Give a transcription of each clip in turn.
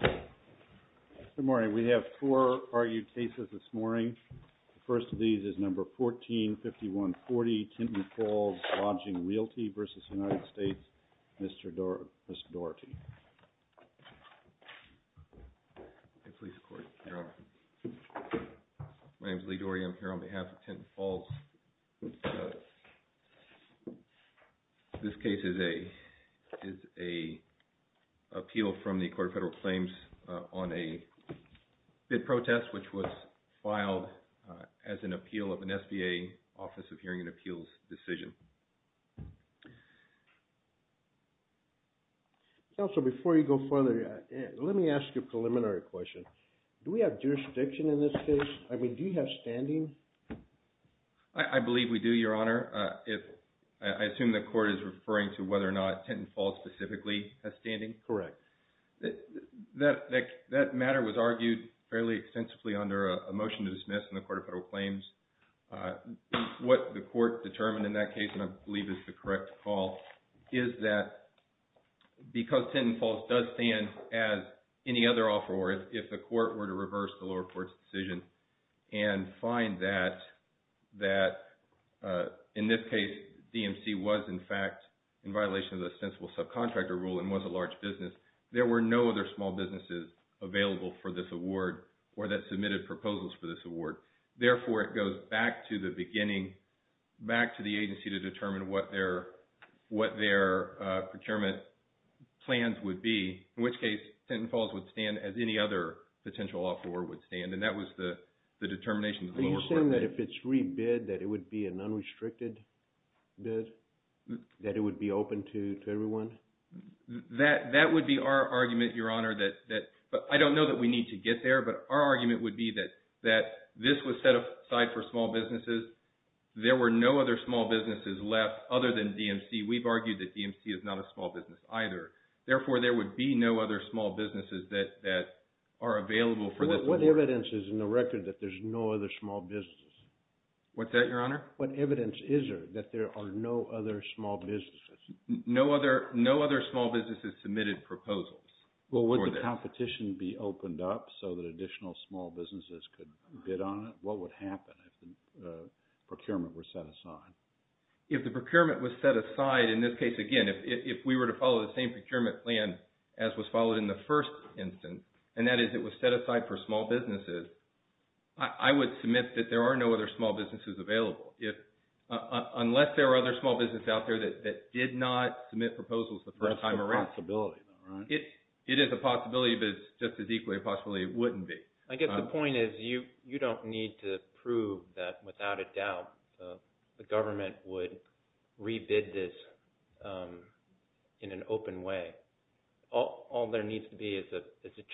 Good morning. We have four argued cases this morning. The first of these is number 145140, Tinton Falls Lodging Realty v. United States. Mr. Doherty. My name is Lee Doherty. I'm here on behalf of Tinton Falls. This case is a appeal from the Court of Federal Claims on a bid protest which was filed as an appeal of an SBA Office of Hearing and Appeals decision. Counselor, before you go further, let me ask you a preliminary question. Do we have jurisdiction in this case? I mean, do you have standing? I believe we do, Your Honor. I assume the court is referring to whether or not Tinton Falls specifically has standing? Correct. That matter was argued fairly extensively under a motion to dismiss in the Court of Federal Claims. What the court determined in that case, and I believe it's the correct call, is that because Tinton Falls does stand as any other offeror, if the court were to reverse the lower court's decision and find that, in this case, DMC was, in fact, in violation of the ostensible subcontractor rule and was a large business, there were no other small businesses available for this award or that submitted proposals for this award. Therefore, it goes back to the beginning, back to the agency to determine what their procurement plans would be, in which case, Tinton Falls would stand as any other potential offeror would stand, and that was the determination of the lower court. Are you saying that if it's rebid, that it would be an unrestricted bid, that it would be open to everyone? That would be our argument, Your Honor. I don't know that we need to get there, but our argument would be that this was set aside for small businesses. There were no other small businesses left other than DMC. We've argued that DMC is not a small business either. Therefore, there would be no other small businesses that are available for this award. What evidence is in the record that there's no other small businesses? What's that, Your Honor? What evidence is there that there are no other small businesses? No other small businesses submitted proposals. Well, would the competition be opened up so that additional small businesses could bid on it? What would happen if the procurement were set aside? If the procurement was set aside, in this case, again, if we were to follow the same procurement plan as was followed in the first instance, and that is it was set aside for small businesses, I would submit that there are no other small businesses available, unless there are other small businesses out there that did not submit proposals the first time around. That's a possibility, though, right? It is a possibility, but it's just as equally a possibility it wouldn't be. I guess the point is you don't need to... All there needs to be is a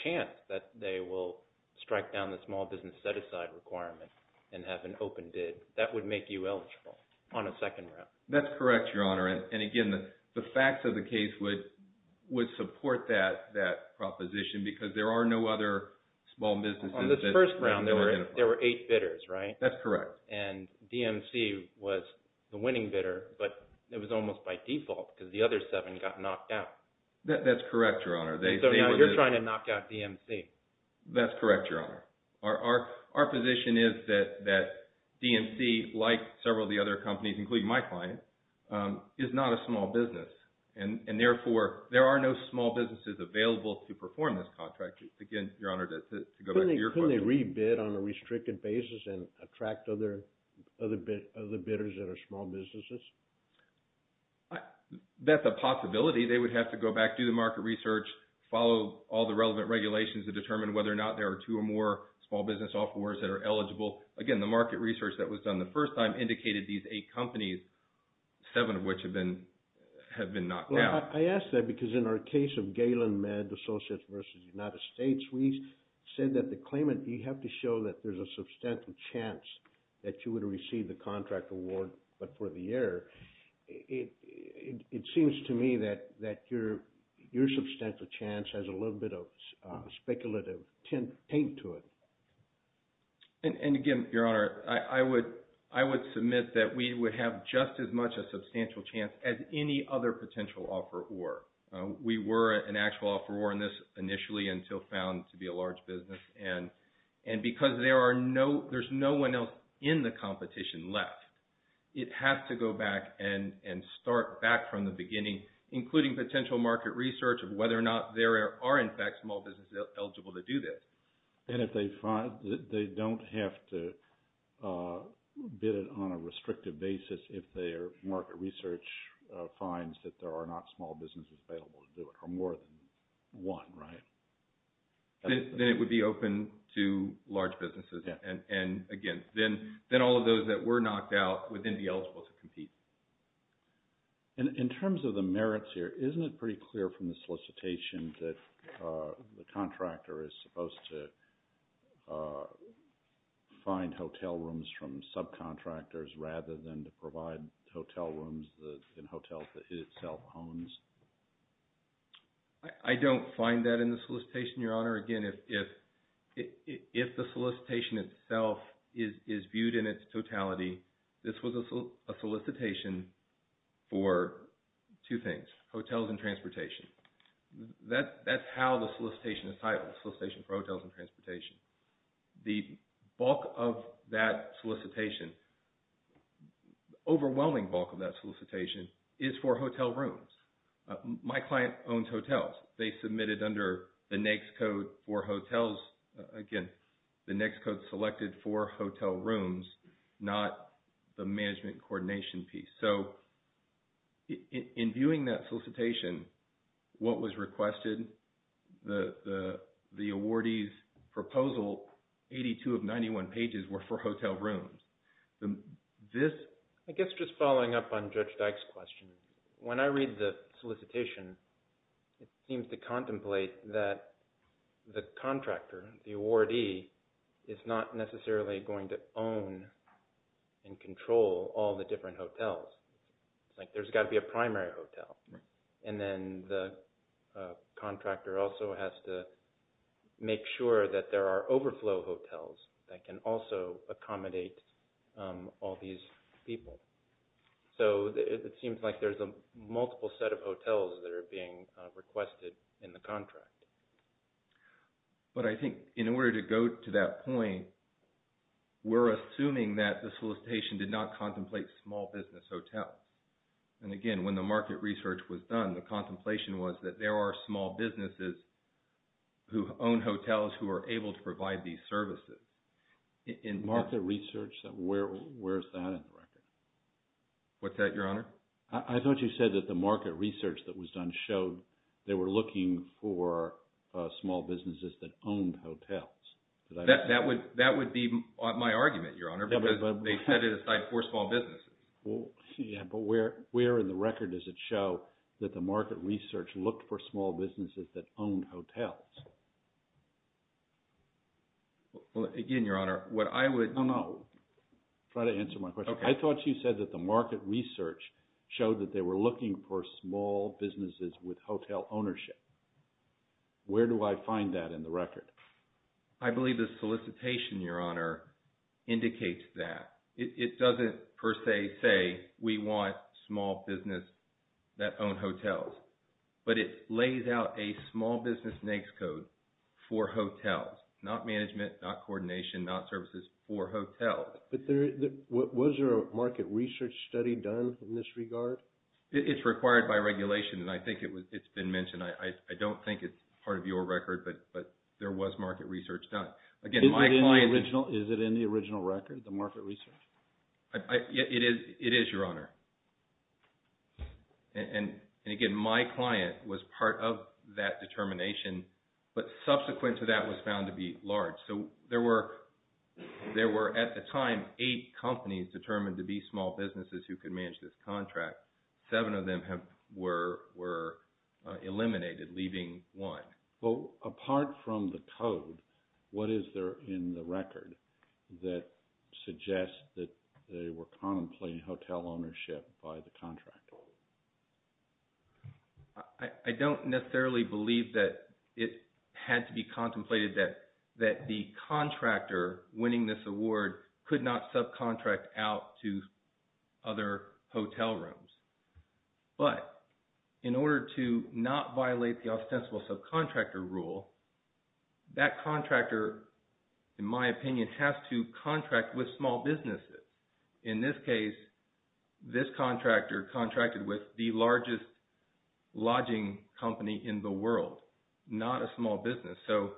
chance that they will strike down the small business set-aside requirement and have an open bid. That would make you eligible on a second round. That's correct, Your Honor. Again, the facts of the case would support that proposition because there are no other small businesses that can be oriented. On this first round, there were eight bidders, right? That's correct. DMC was the winning bidder, but it was almost by default because the other seven got knocked out. That's correct, Your Honor. You're trying to knock out DMC. That's correct, Your Honor. Our position is that DMC, like several of the other companies, including my client, is not a small business. Therefore, there are no small businesses available to perform this contract. Again, Your Honor, to go back to your question. Couldn't they re-bid on a restricted basis and attract other bidders that are small businesses? That's a possibility. They would have to go back, do the market research, follow all the relevant regulations to determine whether or not there are two or more small business offerors that are eligible. Again, the market research that was done the first time indicated these eight companies, seven of which have been knocked out. Well, I ask that because in our case of Galen Med Associates v. United States, we said that the claimant, you have to show that there's a substantial chance that you would receive the contract award, but for the error, it seems to me that your substantial chance has a little bit of speculative tint to it. And again, Your Honor, I would submit that we would have just as much a substantial chance as any other potential offeror. We were an actual offeror in this initially until found to be a and start back from the beginning, including potential market research of whether or not there are in fact small businesses eligible to do this. And if they don't have to bid it on a restrictive basis if their market research finds that there are not small businesses available to do it or more than one, right? Then it would be open to large businesses. And again, then all of those that were knocked out would then be eligible to compete. And in terms of the merits here, isn't it pretty clear from the solicitation that the contractor is supposed to find hotel rooms from subcontractors rather than to provide hotel rooms in hotels that it itself owns? I don't find that in the solicitation, Your Honor. Again, if the solicitation itself is viewed in its totality, this was a solicitation for two things, hotels and transportation. That's how the solicitation is titled, solicitation for hotels and transportation. The bulk of that solicitation, overwhelming bulk of that solicitation is for hotel rooms. My client owns hotels. They submitted under the NAICS code for hotels. Again, the NAICS code selected for hotel rooms, not the management coordination piece. So, in viewing that solicitation, what was requested, the awardee's proposal, 82 of 91 pages were for hotel rooms. I guess just following up on Judge Dyke's question, when I read the solicitation, it seems to contemplate that the contractor, the awardee, is not necessarily going to own and control all the different hotels. It's like there's got to be a primary hotel. And then the contractor also has to make sure that there are overflow hotels that can also be requested in the contract. But I think in order to go to that point, we're assuming that the solicitation did not contemplate small business hotels. And again, when the market research was done, the contemplation was that there are small businesses who own hotels who are able to provide these services. Market research? Where is that in the record? What's that, Your Honor? I thought you said that the market research that was done showed they were looking for small businesses that owned hotels. That would be my argument, Your Honor, because they set it aside for small businesses. Well, yeah, but where in the record does it show that the market research looked for small businesses that owned hotels? Again, Your Honor, what I would... No, no. Try to answer my question. I thought you said that the market research showed that they were looking for small businesses with hotel ownership. Where do I find that in the record? I believe the solicitation, Your Honor, indicates that. It doesn't per se say we want small business that own hotels, but it lays out a small business NAICS code for hotels, not management, not coordination, not services for hotels. But was there a market research study done in this regard? It's required by regulation, and I think it's been mentioned. I don't think it's part of your record, but there was market research done. Again, my client... Is it in the original record, the market research? It is, Your Honor. And again, my client was part of that determination, but subsequent to that was found to be large. There were, at the time, eight companies determined to be small businesses who could manage this contract. Seven of them were eliminated, leaving one. Well, apart from the code, what is there in the record that suggests that they were contemplating hotel ownership by the contractor? I don't necessarily believe that it had to be contemplated that the contractor winning this award could not subcontract out to other hotel rooms. But in order to not violate the ostensible subcontractor rule, that contractor, in my opinion, has to contract with small businesses. In this case, this contractor contracted with the largest lodging company in the world, not a small business. So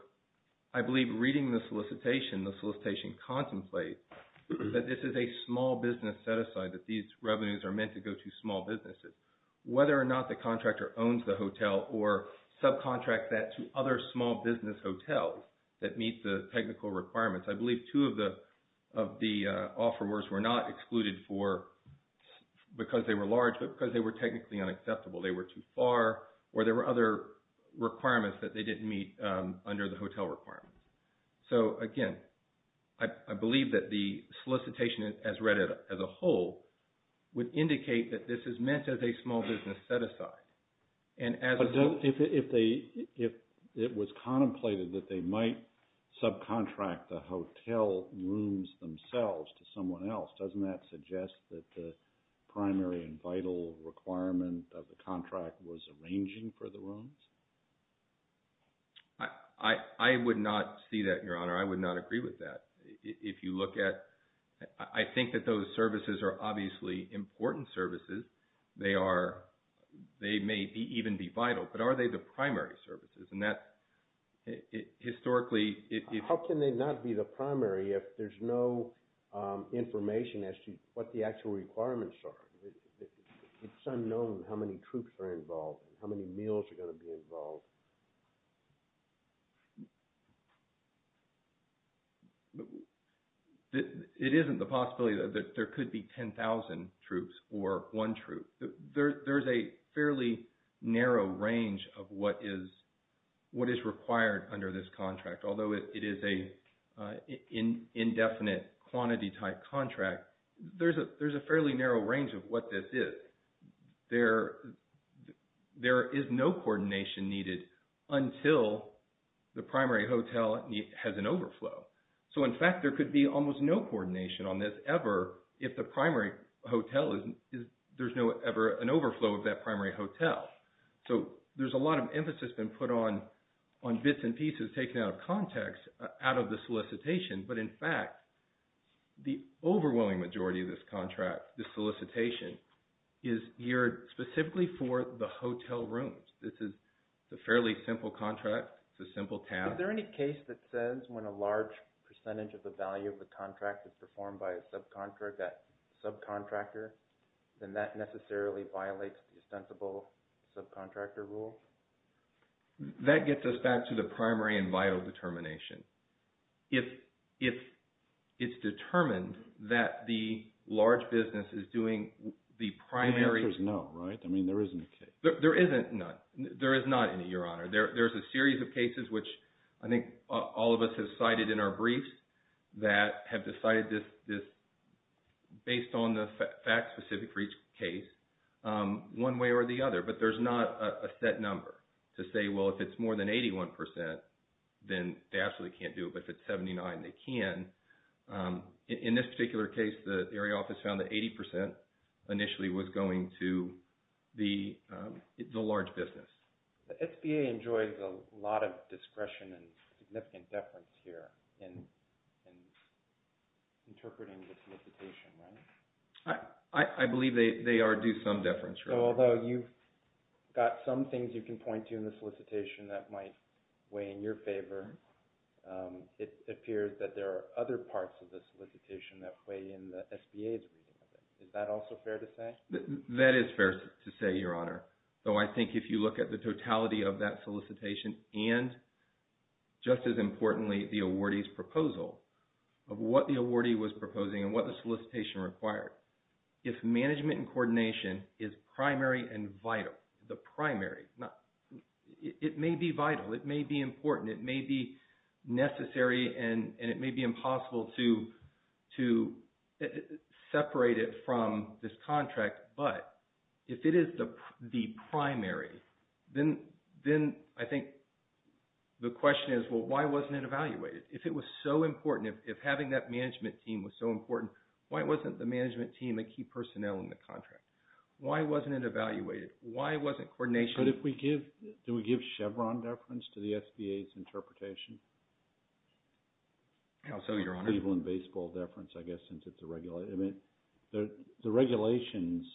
I believe reading the solicitation, the solicitation contemplates that this is a small business set-aside, that these revenues are meant to go to small businesses. Whether or not the contractor owns the hotel or subcontract that to other small business hotels that meet the technical requirements. I believe two of the offerors were not excluded for because they were large, but because they were technically unacceptable. They were too far or there were other requirements that they didn't meet under the hotel requirements. So again, I believe that the solicitation as read as a whole would indicate that this is meant as a small business set-aside. But if it was contemplated that they might subcontract the hotel rooms themselves to someone else, doesn't that suggest that the primary and vital requirement of the contract was arranging for the rooms? I would not see that, Your Honor. I would not agree with that. If you look at, I think that those services are obviously important services. They may even be vital. But are they the primary services? And that, historically... How can they not be the primary if there's no information as to what the actual requirements are? It's unknown how many troops are involved, how many meals are going to be involved. But it isn't the possibility that there could be 10,000 troops or one troop. There's a fairly narrow range of what is required under this contract. Although it is an indefinite quantity-type contract, there's a fairly narrow range of what this is. There is no coordination needed until the primary hotel has an overflow. So, in fact, there could be almost no coordination on this ever if there's ever an overflow of that primary hotel. So, there's a lot of emphasis been put on bits and pieces taken out of context, out of the solicitation. But in fact, the overwhelming majority of this contract, this solicitation, is geared specifically for the hotel rooms. This is a fairly simple contract. It's a simple task. Is there any case that says when a large percentage of the value of the contract is performed by a subcontractor, then that necessarily violates the ostensible subcontractor rule? That gets us back to the primary and vital determination. If it's determined that the large business is doing the primary... The answer is no, right? I mean, there isn't a case. There isn't none. There is not any, Your Honor. There's a series of cases, which I think all of us have cited in our briefs, that have decided this based on the facts specific for each case, one way or the other. But there's not a set number to say, well, if it's more than 81 percent, then they absolutely can't do it. But if it's 79, they can. In this particular case, the area office found that 80 percent initially was going to the large business. The SBA enjoys a lot of discretion and significant deference here in interpreting the solicitation, right? I believe they do some deference, Your Honor. Although you've got some things you can point to in the solicitation that might weigh in your favor, it appears that there are other parts of the solicitation that weigh in the SBA's reading of it. Is that also fair to say? That is fair to say, Your Honor. I think if you look at the totality of that solicitation and just as importantly, the awardee's proposal of what the awardee was proposing and what the solicitation required, if management and coordination is primary and vital, the primary, it may be vital, it may be important, it may be necessary and it may be impossible to separate it from this contract. But if it is the primary, then I think the question is, well, why wasn't it evaluated? If it was so important, if having that management team was so important, why wasn't the management team a key personnel in the contract? Why wasn't it evaluated? Why wasn't coordination? But if we give, do we give Chevron deference to the SBA's interpretation? Absolutely, Your Honor. People in baseball deference, I guess, since it's a regular... I mean, the regulations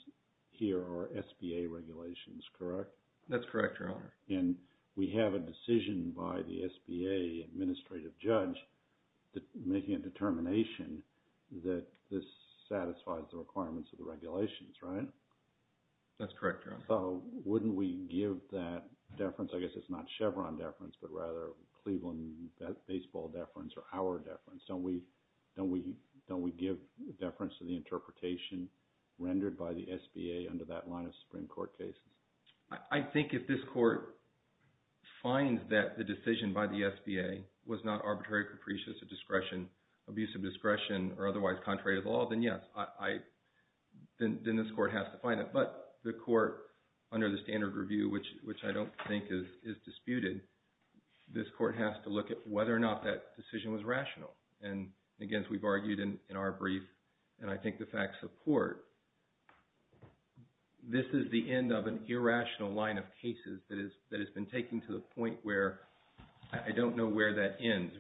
here are SBA regulations, correct? That's correct, Your Honor. And we have a decision by the SBA administrative judge making a determination that this satisfies the requirements of the regulations, right? That's correct, Your Honor. So wouldn't we give that deference, I guess it's not Chevron deference, but rather Cleveland baseball deference or our deference. Don't we give deference to the interpretation rendered by the SBA under that line of Supreme Court cases? I think if this court finds that the decision by the SBA was not arbitrary, capricious of discretion, abuse of discretion, or otherwise contrary to the law, then yes, then this court has to find it. But the court, under the standard review, which I don't think is disputed, this court has to look at whether or not that decision was rational. And again, as we've argued in our brief, and I think the facts support, this is the end of an irrational line of cases that has been taken to the point where I don't know where that ends.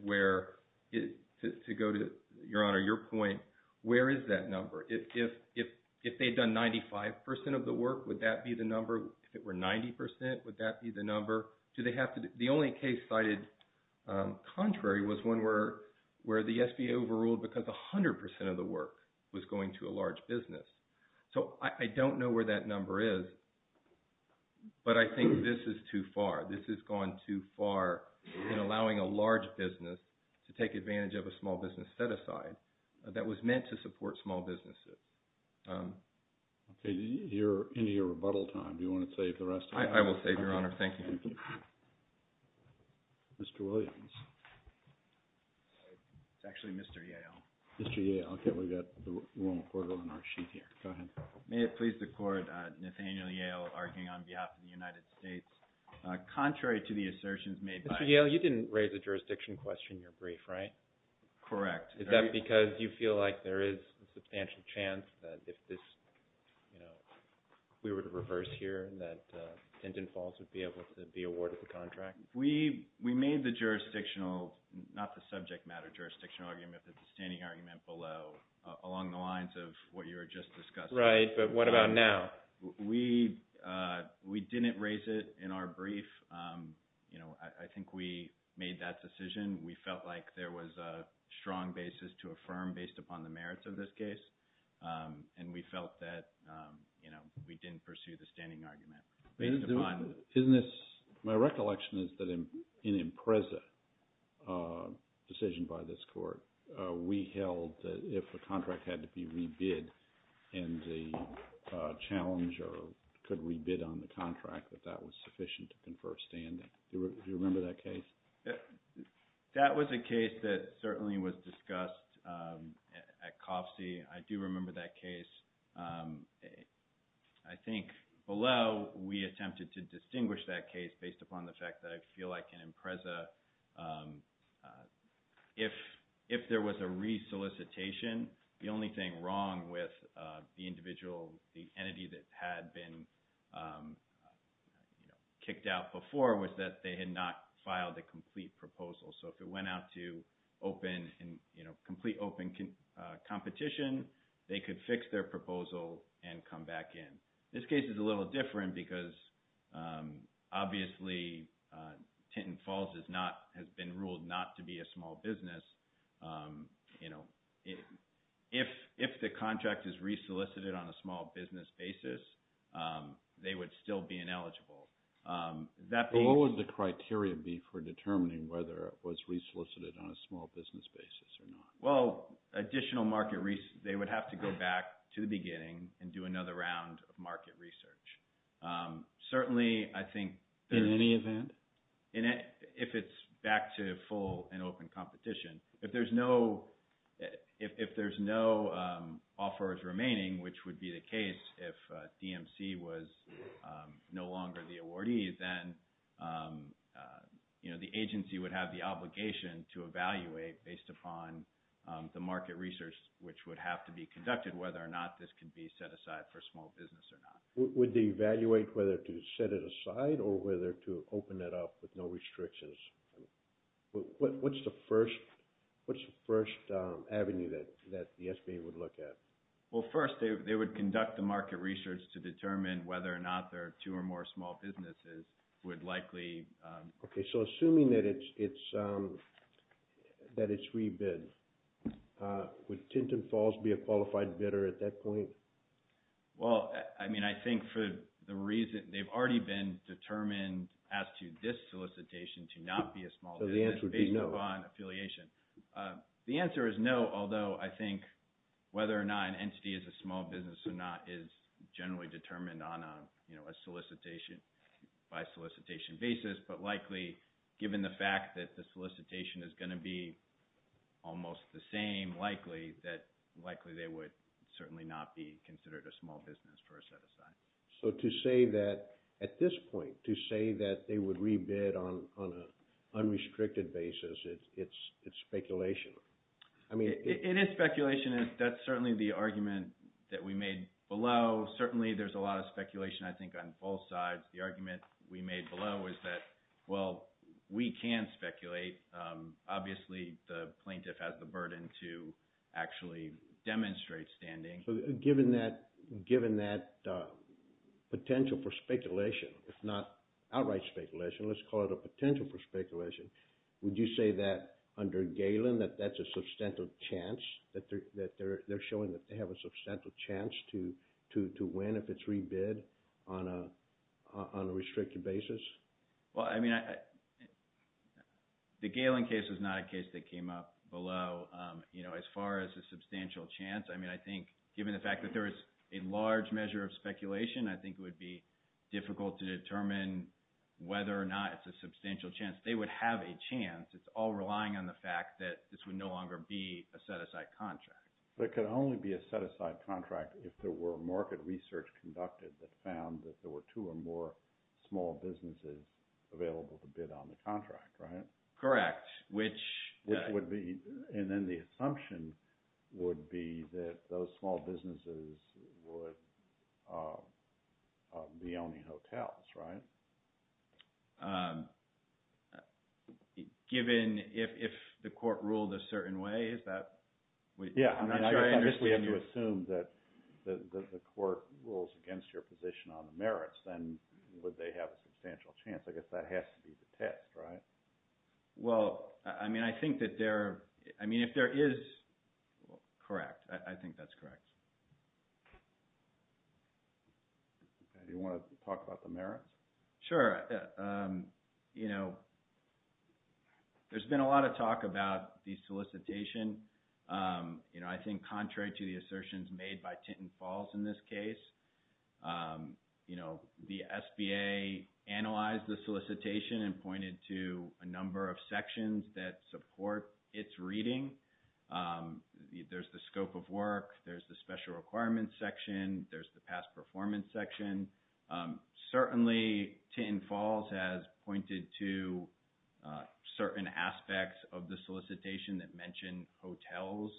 To go to, Your Honor, your point, where is that number? If they'd done 95% of the work, would that be the number? If it were 90%, would that be the number? The only case cited contrary was one where the SBA overruled because 100% of the work was going to a large business. So I don't know where that number is. But I think this is too far. This has gone too far in allowing a large business to take advantage of a small business set-aside that was meant to support small businesses. Okay, you're into your rebuttal time. Do you want to save the rest of it? I will save, Your Honor. Thank you. Mr. Williams. It's actually Mr. Yale. Mr. Yale. Okay, we've got the wrong quarter on our sheet here. Go ahead. May it please the Court, Nathaniel Yale arguing on behalf of the United States. Contrary to the assertions made by... Mr. Yale, you didn't raise the jurisdiction question in your brief, right? Correct. Is that because you feel like there is a substantial chance that if this, you know, we were to reverse here, that Dinden Falls would be able to be awarded the contract? We made the jurisdictional, not the subject matter, jurisdictional argument, but the standing argument below along the lines of what you were just discussing. But what about now? We didn't raise it in our brief. You know, I think we made that decision. We felt like there was a strong basis to affirm based upon the merits of this case. And we felt that, you know, we didn't pursue the standing argument. My recollection is that in Impreza decision by this Court, we held that if the contract had to be rebid and the challenger could rebid on the contract, that that was sufficient to confer standing. Do you remember that case? That was a case that certainly was discussed at COFSE. I do remember that case. I think below, we attempted to distinguish that case based upon the fact that I feel like in Impreza, if there was a re-solicitation, the only thing wrong with the individual, the entity that had been, you know, kicked out before was that they had not filed a complete proposal. So if it went out to open and, you know, complete open competition, they could fix their proposal and come back in. This case is a little different because, obviously, Tenton Falls has been ruled not to be a small business. You know, if the contract is re-solicited on a small business basis, they would still be ineligible. What would the criteria be for determining whether it was re-solicited on a small business basis or not? Well, additional market research, they would have to go back to the beginning and do another round of market research. Certainly, I think... In any event? And if it's back to full and open competition, if there's no offers remaining, which would be the case, if DMC was no longer the awardee, then, you know, the agency would have the obligation to evaluate based upon the market research, which would have to be conducted, whether or not this can be set aside for a small business or not. Would they evaluate whether to set it aside or whether to open it up with no restrictions? What's the first avenue that the SBA would look at? Well, first, they would conduct the market research to determine whether or not there are two or more small businesses would likely... Okay, so assuming that it's re-bid, would Tenton Falls be a qualified bidder at that point? Well, I mean, I think for the reason... They've already been determined as to this solicitation to not be a small business based upon affiliation. The answer is no, although I think whether or not an entity is a small business or not is generally determined on a, you know, a solicitation-by-solicitation basis, but likely, given the fact that the solicitation is going to be almost the same, likely they would certainly not be considered a small business for a set aside. So to say that at this point, to say that they would re-bid on an unrestricted basis, it's speculation. I mean... It is speculation. That's certainly the argument that we made below. Certainly, there's a lot of speculation, I think, on both sides. The argument we made below is that, well, we can speculate. Obviously, the plaintiff has the burden to actually demonstrate standing. Given that potential for speculation, if not outright speculation, let's call it a potential for speculation, would you say that under Galen, that that's a substantial chance, that they're showing that they have a substantial chance to win if it's re-bid on a restricted basis? Well, I mean, the Galen case is not a case that came up below. You know, as far as a substantial chance, I mean, I think, given the fact that there is a large measure of speculation, I think it would be difficult to determine whether or not it's a substantial chance. They would have a chance. It's all relying on the fact that this would no longer be a set-aside contract. But it could only be a set-aside contract if there were market research conducted that found that there were two or more small businesses available to bid on the contract, right? Correct. Which would be... Those small businesses would be owning hotels, right? Given if the court ruled a certain way, is that... Yeah, I guess we have to assume that the court rules against your position on the merits, then would they have a substantial chance? I guess that has to be the test, right? Well, I mean, I think that there... I mean, if there is... I think that's correct. Do you want to talk about the merits? Sure. There's been a lot of talk about the solicitation. I think contrary to the assertions made by Tintin Falls in this case, the SBA analyzed the solicitation and pointed to a number of sections that support its reading. There's the scope of work. There's the special requirements section. There's the past performance section. Certainly, Tintin Falls has pointed to certain aspects of the solicitation that mentioned hotels.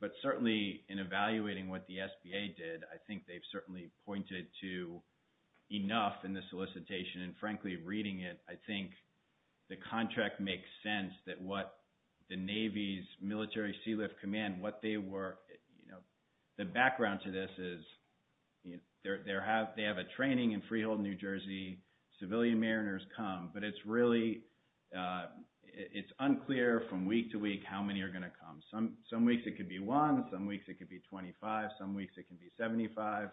But certainly, in evaluating what the SBA did, I think they've certainly pointed to enough in the solicitation. And frankly, reading it, I think the contract makes sense that what the Navy's military sealift command, what they were... The background to this is, they have a training in Freehold, New Jersey. Civilian mariners come, but it's unclear from week to week how many are going to come. Some weeks, it could be one. Some weeks, it could be 25. Some weeks, it can be 75.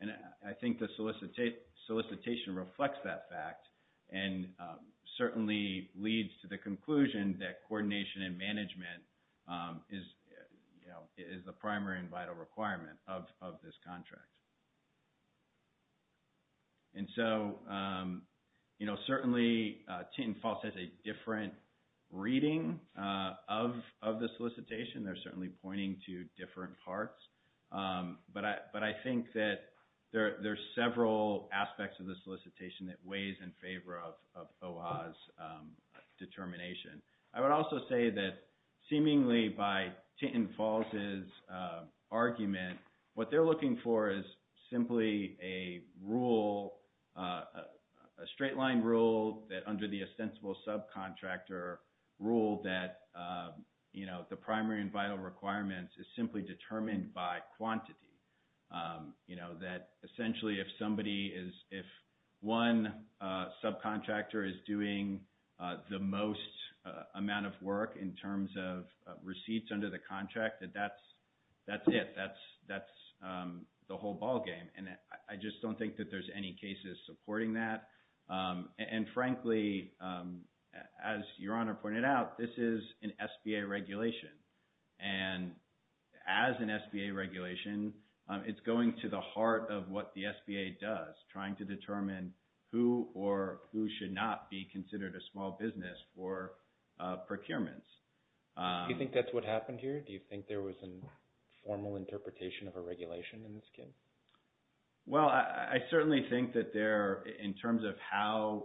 And I think the solicitation reflects that fact and certainly leads to the conclusion that coordination and management is the primary and vital requirement of this contract. And so, certainly, Tintin Falls has a different reading of the solicitation. They're certainly pointing to different parts. But I think that there's several aspects of the solicitation that weighs in favor of OHA's determination. I would also say that, seemingly, by Tintin Falls' argument, what they're looking for is simply a rule, a straight-line rule that, under the ostensible subcontractor rule, that the primary and vital requirements is simply determined by quantity. That, essentially, if somebody is... If one subcontractor is doing the most amount of work in terms of receipts under the contract, that's it. That's the whole ballgame. And I just don't think that there's any cases supporting that. And, frankly, as Your Honor pointed out, this is an SBA regulation. And as an SBA regulation, it's going to the heart of what the SBA does, trying to determine who or who should not be considered a small business for procurements. Do you think that's what happened here? Do you think there was a formal interpretation of a regulation in this case? Well, I certainly think that there, in terms of how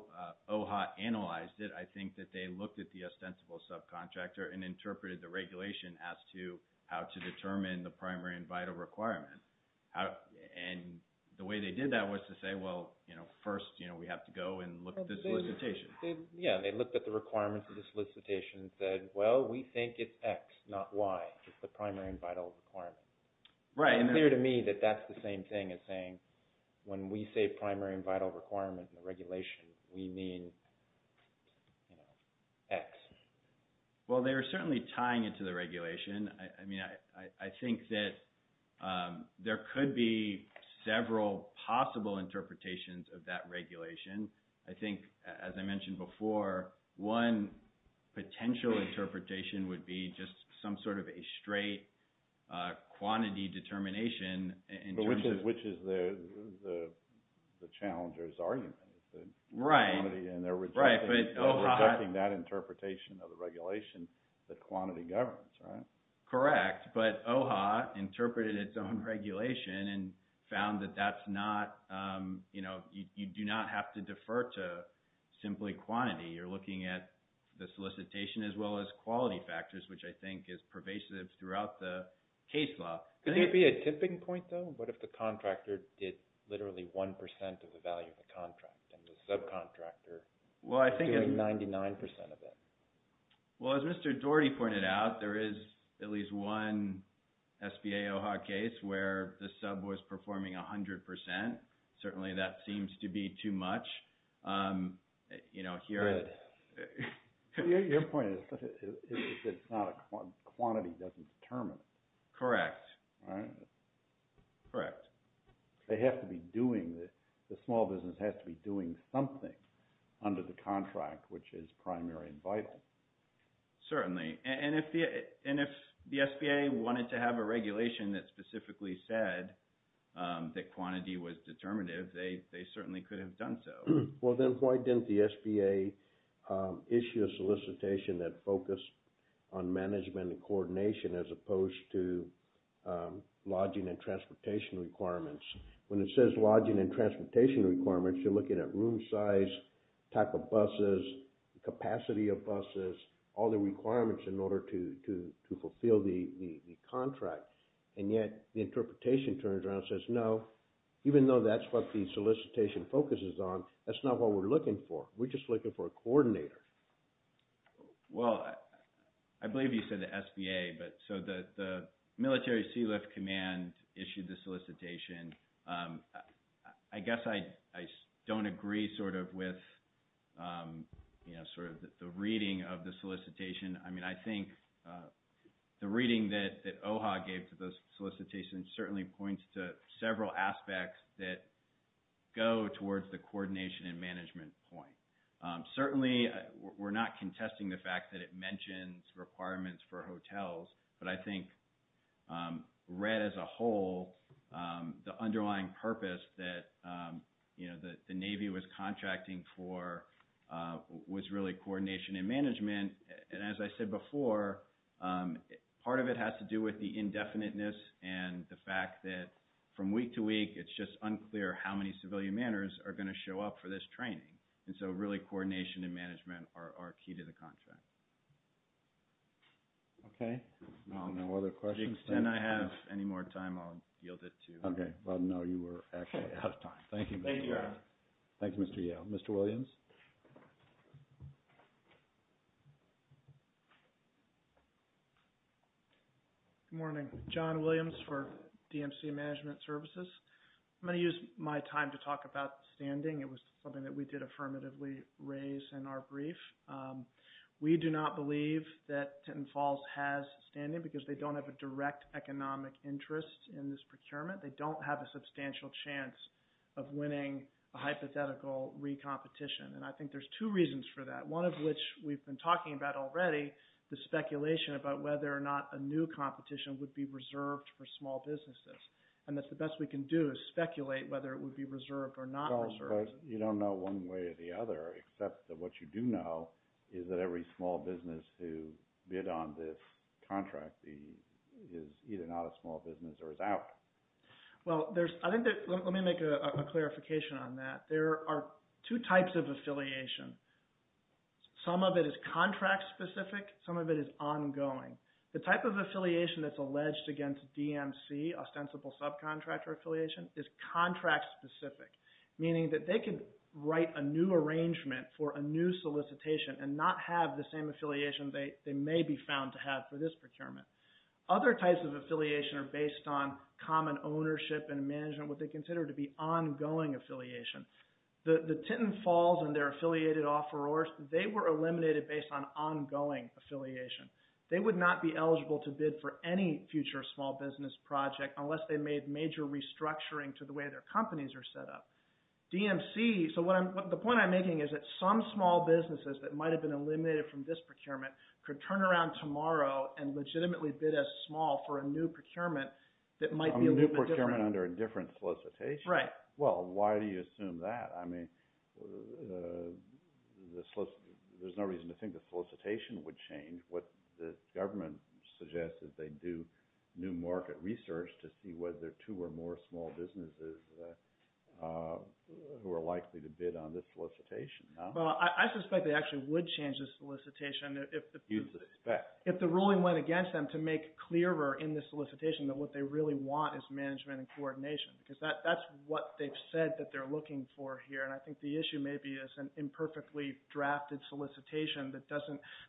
OHA analyzed it, I think that they looked at the ostensible subcontractor and interpreted the regulation as to how to determine the primary and vital requirement. And the way they did that was to say, well, first, we have to go and look at the solicitation. Yeah, they looked at the requirements of the solicitation and said, well, we think it's X, not Y. It's the primary and vital requirement. It's clear to me that that's the same thing as saying when we say primary and vital requirement in the regulation, we mean, you know, X. Well, they were certainly tying it to the regulation. I mean, I think that there could be several possible interpretations of that regulation. I think, as I mentioned before, one potential interpretation would be just some sort of a straight quantity determination in terms of- Which is the challenger's argument. Right. And they're rejecting that interpretation of the regulation that quantity governs, right? Correct. But OHA interpreted its own regulation and found that that's not, you know, you do not have to defer to simply quantity. You're looking at the solicitation as well as quality factors, which I think is pervasive throughout the case law. Could there be a tipping point though? What if the contractor did literally 1% of the value of the contract and the subcontractor doing 99% of it? Well, as Mr. Dougherty pointed out, there is at least one SBA OHA case where the sub was performing 100%. Certainly that seems to be too much. You know, here- Your point is that quantity doesn't determine it. Correct. Correct. They have to be doing this. The small business has to be doing something under the contract, which is primary and vital. Certainly. And if the SBA wanted to have a regulation that specifically said that quantity was determinative, they certainly could have done so. Well, then why didn't the SBA issue a solicitation that focused on management and coordination as opposed to lodging and transportation requirements? When it says lodging and transportation requirements, you're looking at room size, type of buses, capacity of buses, all the requirements in order to fulfill the contract. And yet the interpretation turns around and says, no, even though that's what the solicitation focuses on, that's not what we're looking for. We're just looking for a coordinator. Well, I believe you said the SBA, but so the Military Sealift Command issued the solicitation. I guess I don't agree sort of with, you know, sort of the reading of the solicitation. I mean, I think the reading that OHA gave to those solicitations certainly points to several aspects that go towards the coordination and management point. Certainly we're not contesting the fact that it mentions requirements for hotels, but I think read as a whole the underlying purpose that, you know, that the Navy was contracting for was really coordination and management. And as I said before, part of it has to do with the indefiniteness and the fact that from week to week, it's just unclear how many civilian manors are going to show up for this training. And so really coordination and management are key to the contract. Okay, no other questions? To the extent I have any more time, I'll yield it to... Okay, well, no, you were actually out of time. Thank you. Thank you, Mr. Yale. Mr. Williams. Good morning. John Williams for DMC Management Services. I'm going to use my time to talk about standing. It was something that we did affirmatively raise in our brief. We do not believe that Tenton Falls has standing because they don't have a direct economic interest in this procurement. They don't have a substantial chance of winning a hypothetical re-competition. And I think there's two reasons for that, one of which we've been talking about already, the speculation about whether or not a new competition would be reserved for small businesses. And that's the best we can do to speculate whether it would be reserved or not reserved. You don't know one way or the other, except that what you do know is that every small business who bid on this contract is either not a small business or is out. Well, I think that... Let me make a clarification on that. There are two types of affiliation. Some of it is contract specific. Some of it is ongoing. The type of affiliation that's alleged against DMC, ostensible subcontractor affiliation, is contract specific, meaning that they could write a new arrangement for a new solicitation and not have the same affiliation they may be found to have for this procurement. Other types of affiliation are based on common ownership and management, what they consider to be ongoing affiliation. The Tinton Falls and their affiliated offerors, they were eliminated based on ongoing affiliation. They would not be eligible to bid for any future small business project unless they made major restructuring to the way their companies are set up. DMC... So the point I'm making is that some small businesses that might have been eliminated from this procurement could turn around tomorrow and legitimately bid as small for a new procurement that might be... A new procurement under a different solicitation? Right. Well, why do you assume that? I mean, there's no reason to think the solicitation would change. What the government suggests is they do new market research to see whether two or more small businesses who are likely to bid on this solicitation. Well, I suspect they actually would change the solicitation if the ruling went against them to make clearer in the solicitation that what they really want is management and coordination because that's what they've said that they're looking for here. And I think the issue may be as an imperfectly drafted solicitation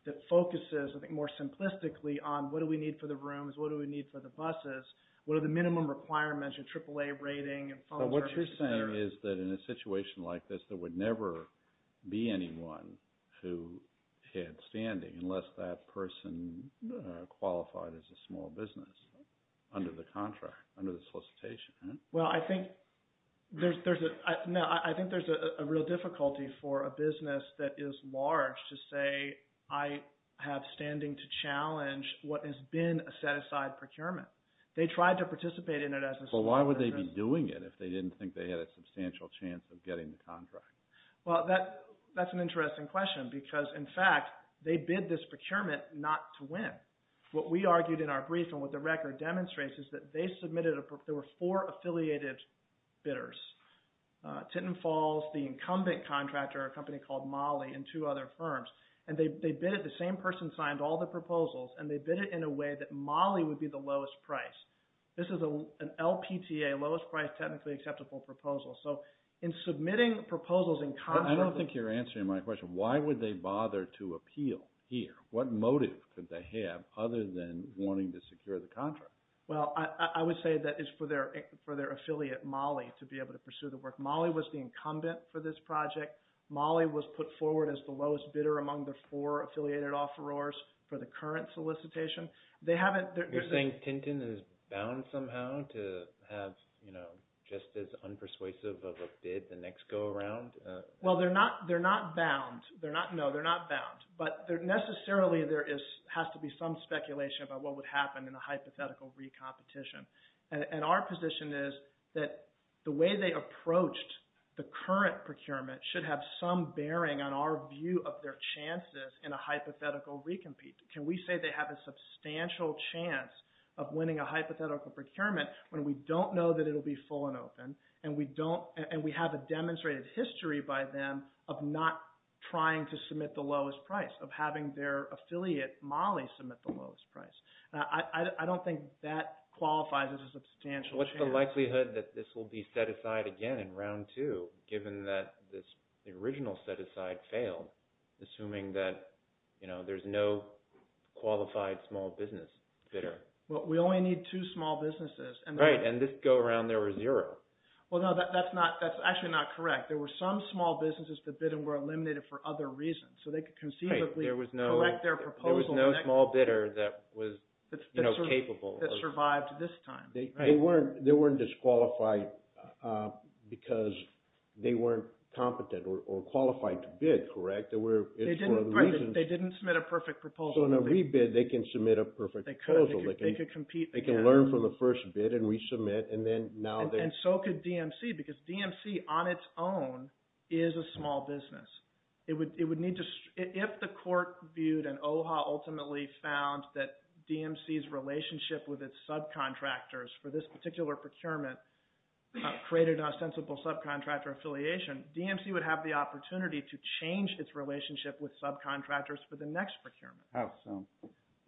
that focuses, I think, more simplistically on what do we need for the rooms? What do we need for the buses? What are the minimum requirements of AAA rating and phone numbers? But what you're saying is that in a situation like this, there would never be anyone who had standing unless that person qualified as a small business under the contract, under the solicitation, right? Well, I think there's a... No, I think there's a real difficulty for a business that is large to say, I have standing to challenge what has been a set-aside procurement. They tried to participate in it as... But why would they be doing it if they didn't think they had a substantial chance of getting the contract? Well, that's an interesting question because, in fact, they bid this procurement not to win. What we argued in our brief and what the record demonstrates is that they submitted... There were four affiliated bidders. Tenton Falls, the incumbent contractor, a company called Molly, and two other firms. And they bid it. The same person signed all the proposals, and they bid it in a way that Molly would be the lowest price. This is an LPTA, lowest price, technically acceptable proposal. So in submitting proposals... I don't think you're answering my question. Why would they bother to appeal here? What motive could they have other than wanting to secure the contract? Well, I would say that it's for their affiliate, Molly, to be able to pursue the work. Molly was the incumbent for this project. Molly was put forward as the lowest bidder among the four affiliated offerors for the current solicitation. They haven't... You're saying Tenton is bound somehow to have, you know, just as unpersuasive of a bid the next go around? Well, they're not bound. They're not... No, they're not bound. But necessarily, there has to be some speculation about what would happen in a hypothetical re-competition. And our position is that the way they approached the current procurement should have some bearing on our view of their chances in a hypothetical re-compete. Can we say they have a substantial chance of winning a hypothetical procurement when we don't know that it'll be full and open and we have a demonstrated history by them of not trying to submit the lowest price, of having their affiliate, Molly, submit the lowest price? I don't think that qualifies as a substantial chance. What's the likelihood that this will be set aside again in round two, given that the original set aside failed, assuming that there's no qualified small business bidder? Well, we only need two small businesses. Right, and this go around, there were zero. Well, no, that's actually not correct. There were some small businesses that bid and were eliminated for other reasons. So they could conceivably collect their proposal. There was no small bidder that was capable. That survived this time. They weren't disqualified because they weren't competent or qualified to bid, correct? They didn't submit a perfect proposal. So in a re-bid, they can submit a perfect proposal. They could compete. They can learn from the first bid and resubmit. And so could DMC, because DMC on its own is a small business. If the court viewed and OHA ultimately found that DMC's relationship with its subcontractors for this particular procurement created a sensible subcontractor affiliation, DMC would have the opportunity to change its relationship with subcontractors for the next procurement. How so?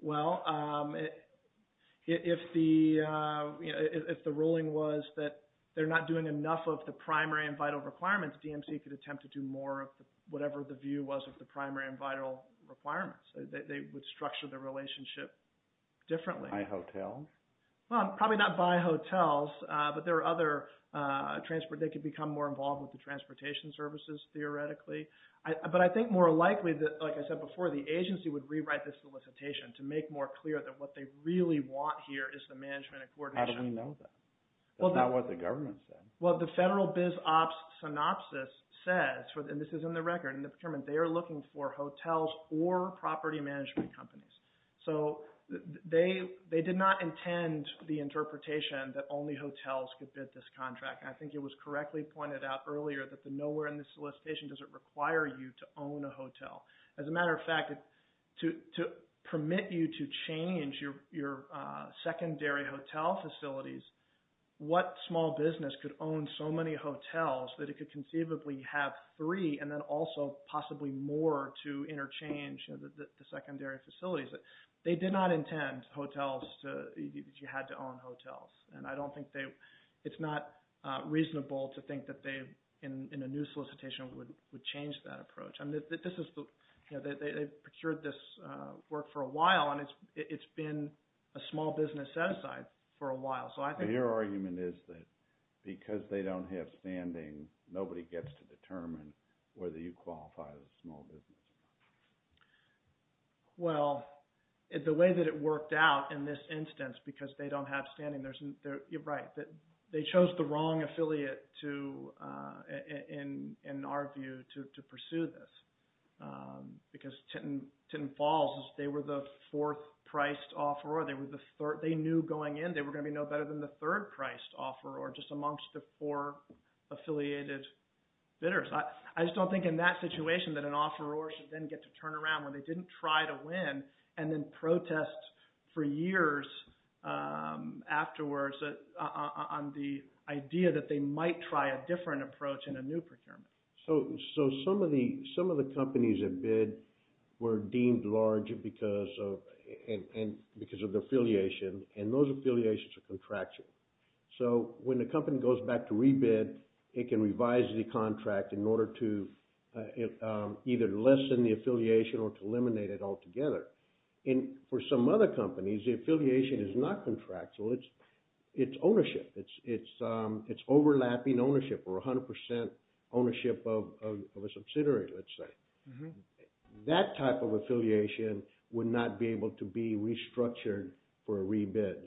Well, if the ruling was that they're not doing enough of the primary and vital requirements, DMC could attempt to do more of whatever the view was of the primary and vital requirements. They would structure the relationship differently. By hotels? Well, probably not by hotels, but there are other transport. They could become more involved with the transportation services, theoretically. But I think more likely, like I said before, the agency would rewrite this solicitation to make more clear that what they really want here is the management and coordination. How do we know that? That's not what the government said. Well, the federal biz ops synopsis says, and this is in the record, in the procurement, they are looking for hotels or property management companies. So they did not intend the interpretation that only hotels could bid this contract. I think it was correctly pointed out earlier that the nowhere in the solicitation doesn't require you to own a hotel. As a matter of fact, to permit you to change your secondary hotel facilities, what small business could own so many hotels that it could conceivably have three and then also possibly more to interchange the secondary facilities? They did not intend hotels to, that you had to own hotels. And I don't think they, it's not reasonable to think that they, in a new solicitation, would change that approach. I mean, this is, they procured this work for a while and it's been a small business set aside for a while. So I think- Your argument is that because they don't have standing, nobody gets to determine whether you qualify as a small business. Well, the way that it worked out in this instance, because they don't have standing, right, they chose the wrong affiliate to, in our view, to pursue this. Because Tenton Falls, they were the fourth priced offeror. They were the third, they knew going in, they were going to be no better than the third priced offeror, just amongst the four affiliated bidders. I just don't think in that situation that an offeror should then get to turn around when they didn't try to win and then protest for years afterwards on the idea that they might try a different approach in a new procurement. So some of the companies that bid were deemed large because of the affiliation and those affiliations are contractual. So when the company goes back to re-bid, it can revise the contract in order to either lessen the affiliation or to eliminate it altogether. And for some other companies, the affiliation is not contractual, it's ownership. It's overlapping ownership or 100% ownership of a subsidiary, let's say. That type of affiliation would not be able to be restructured for a re-bid.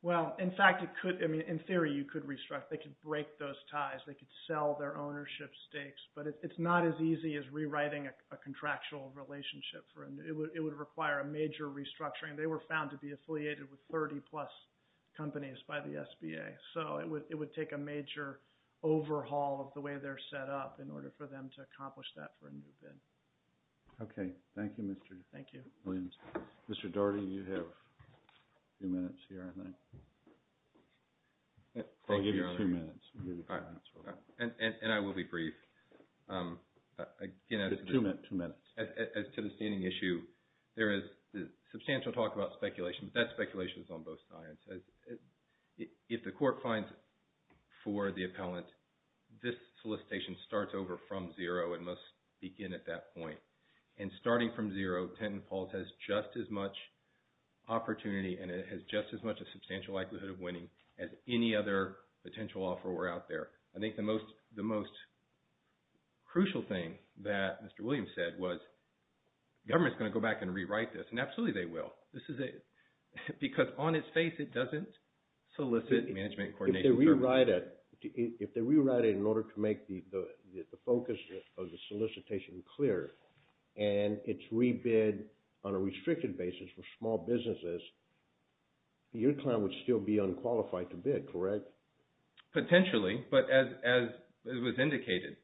Well, in fact, it could. I mean, in theory, you could restructure. They could break those ties. They could sell their ownership stakes. But it's not as easy as rewriting a contractual relationship. It would require a major restructuring. They were found to be affiliated with 30-plus companies by the SBA. So it would take a major overhaul of the way they're set up in order for them to accomplish that for a new bid. OK. Thank you, Mr. Williams. Mr. Daugherty, you have two minutes here, I think. I'll give you two minutes. And I will be brief. Two minutes. As to the standing issue, there is substantial talk about speculation, but that speculation is on both sides. If the court finds for the appellant, this solicitation starts over from zero and must begin at that point. And starting from zero, Tent and Pulse has just as much opportunity and it has just as much a substantial likelihood of winning as any other potential offer were out there. I think the most crucial thing that Mr. Williams said was, government's going to go back and rewrite this. And absolutely they will. This is a... Because on its face, it doesn't solicit management coordination. If they rewrite it in order to make the focus of the solicitation clear and it's rebid on a restricted basis for small businesses, your client would still be unqualified to bid, correct? Potentially. But as was indicated,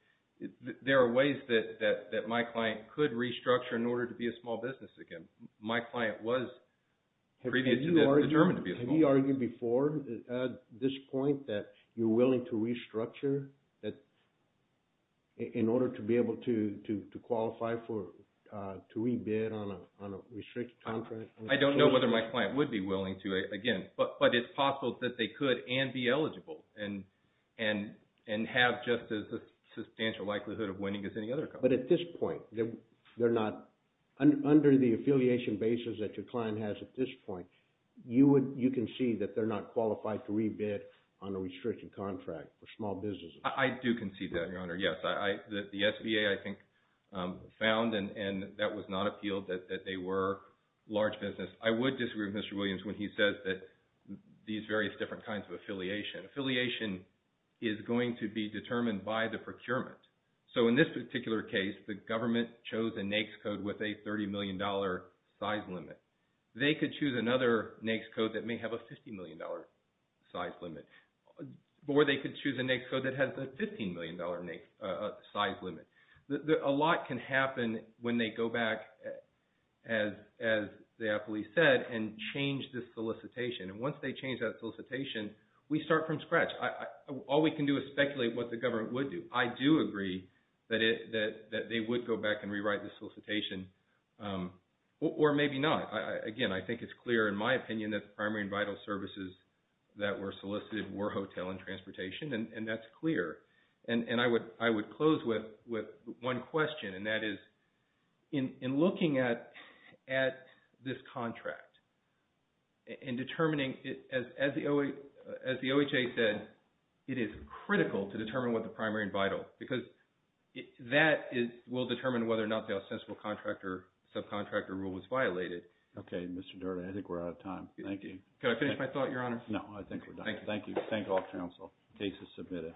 there are ways that my client could restructure in order to be a small business again. My client was previously determined to be a small business. Have you argued before at this point that you're willing to restructure in order to be able to qualify to rebid on a restricted contract? I don't know whether my client would be willing to again, but it's possible that they could and be eligible and have just as a substantial likelihood of winning as any other company. But at this point, under the affiliation basis that your client has at this point, you can see that they're not qualified to rebid on a restricted contract for small businesses. I do concede that, Your Honor. Yes, the SBA, I think, found and that was not appealed that they were large business. I would disagree with Mr. Williams when he says that these various different kinds of affiliation. Affiliation is going to be determined by the procurement. So in this particular case, the government chose a NAICS code with a $30 million size limit. They could choose another NAICS code that may have a $50 million size limit or they could choose a NAICS code that has a $15 million size limit. A lot can happen when they go back as the affiliate said and change this solicitation. And once they change that solicitation, we start from scratch. All we can do is speculate what the government would do. I do agree that they would go back and rewrite the solicitation or maybe not. Again, I think it's clear in my opinion that the primary and vital services that were solicited were hotel and transportation and that's clear. And I would close with one question and that is in looking at this contract and determining it as the OHA said, it is critical to determine what the primary and vital because that will determine whether or not the ostensible contract or subcontractor rule was violated. Okay, Mr. Doherty. I think we're out of time. Thank you. Can I finish my thought, Your Honor? No, I think we're done. Thank you. Thank all counsel. Case is submitted.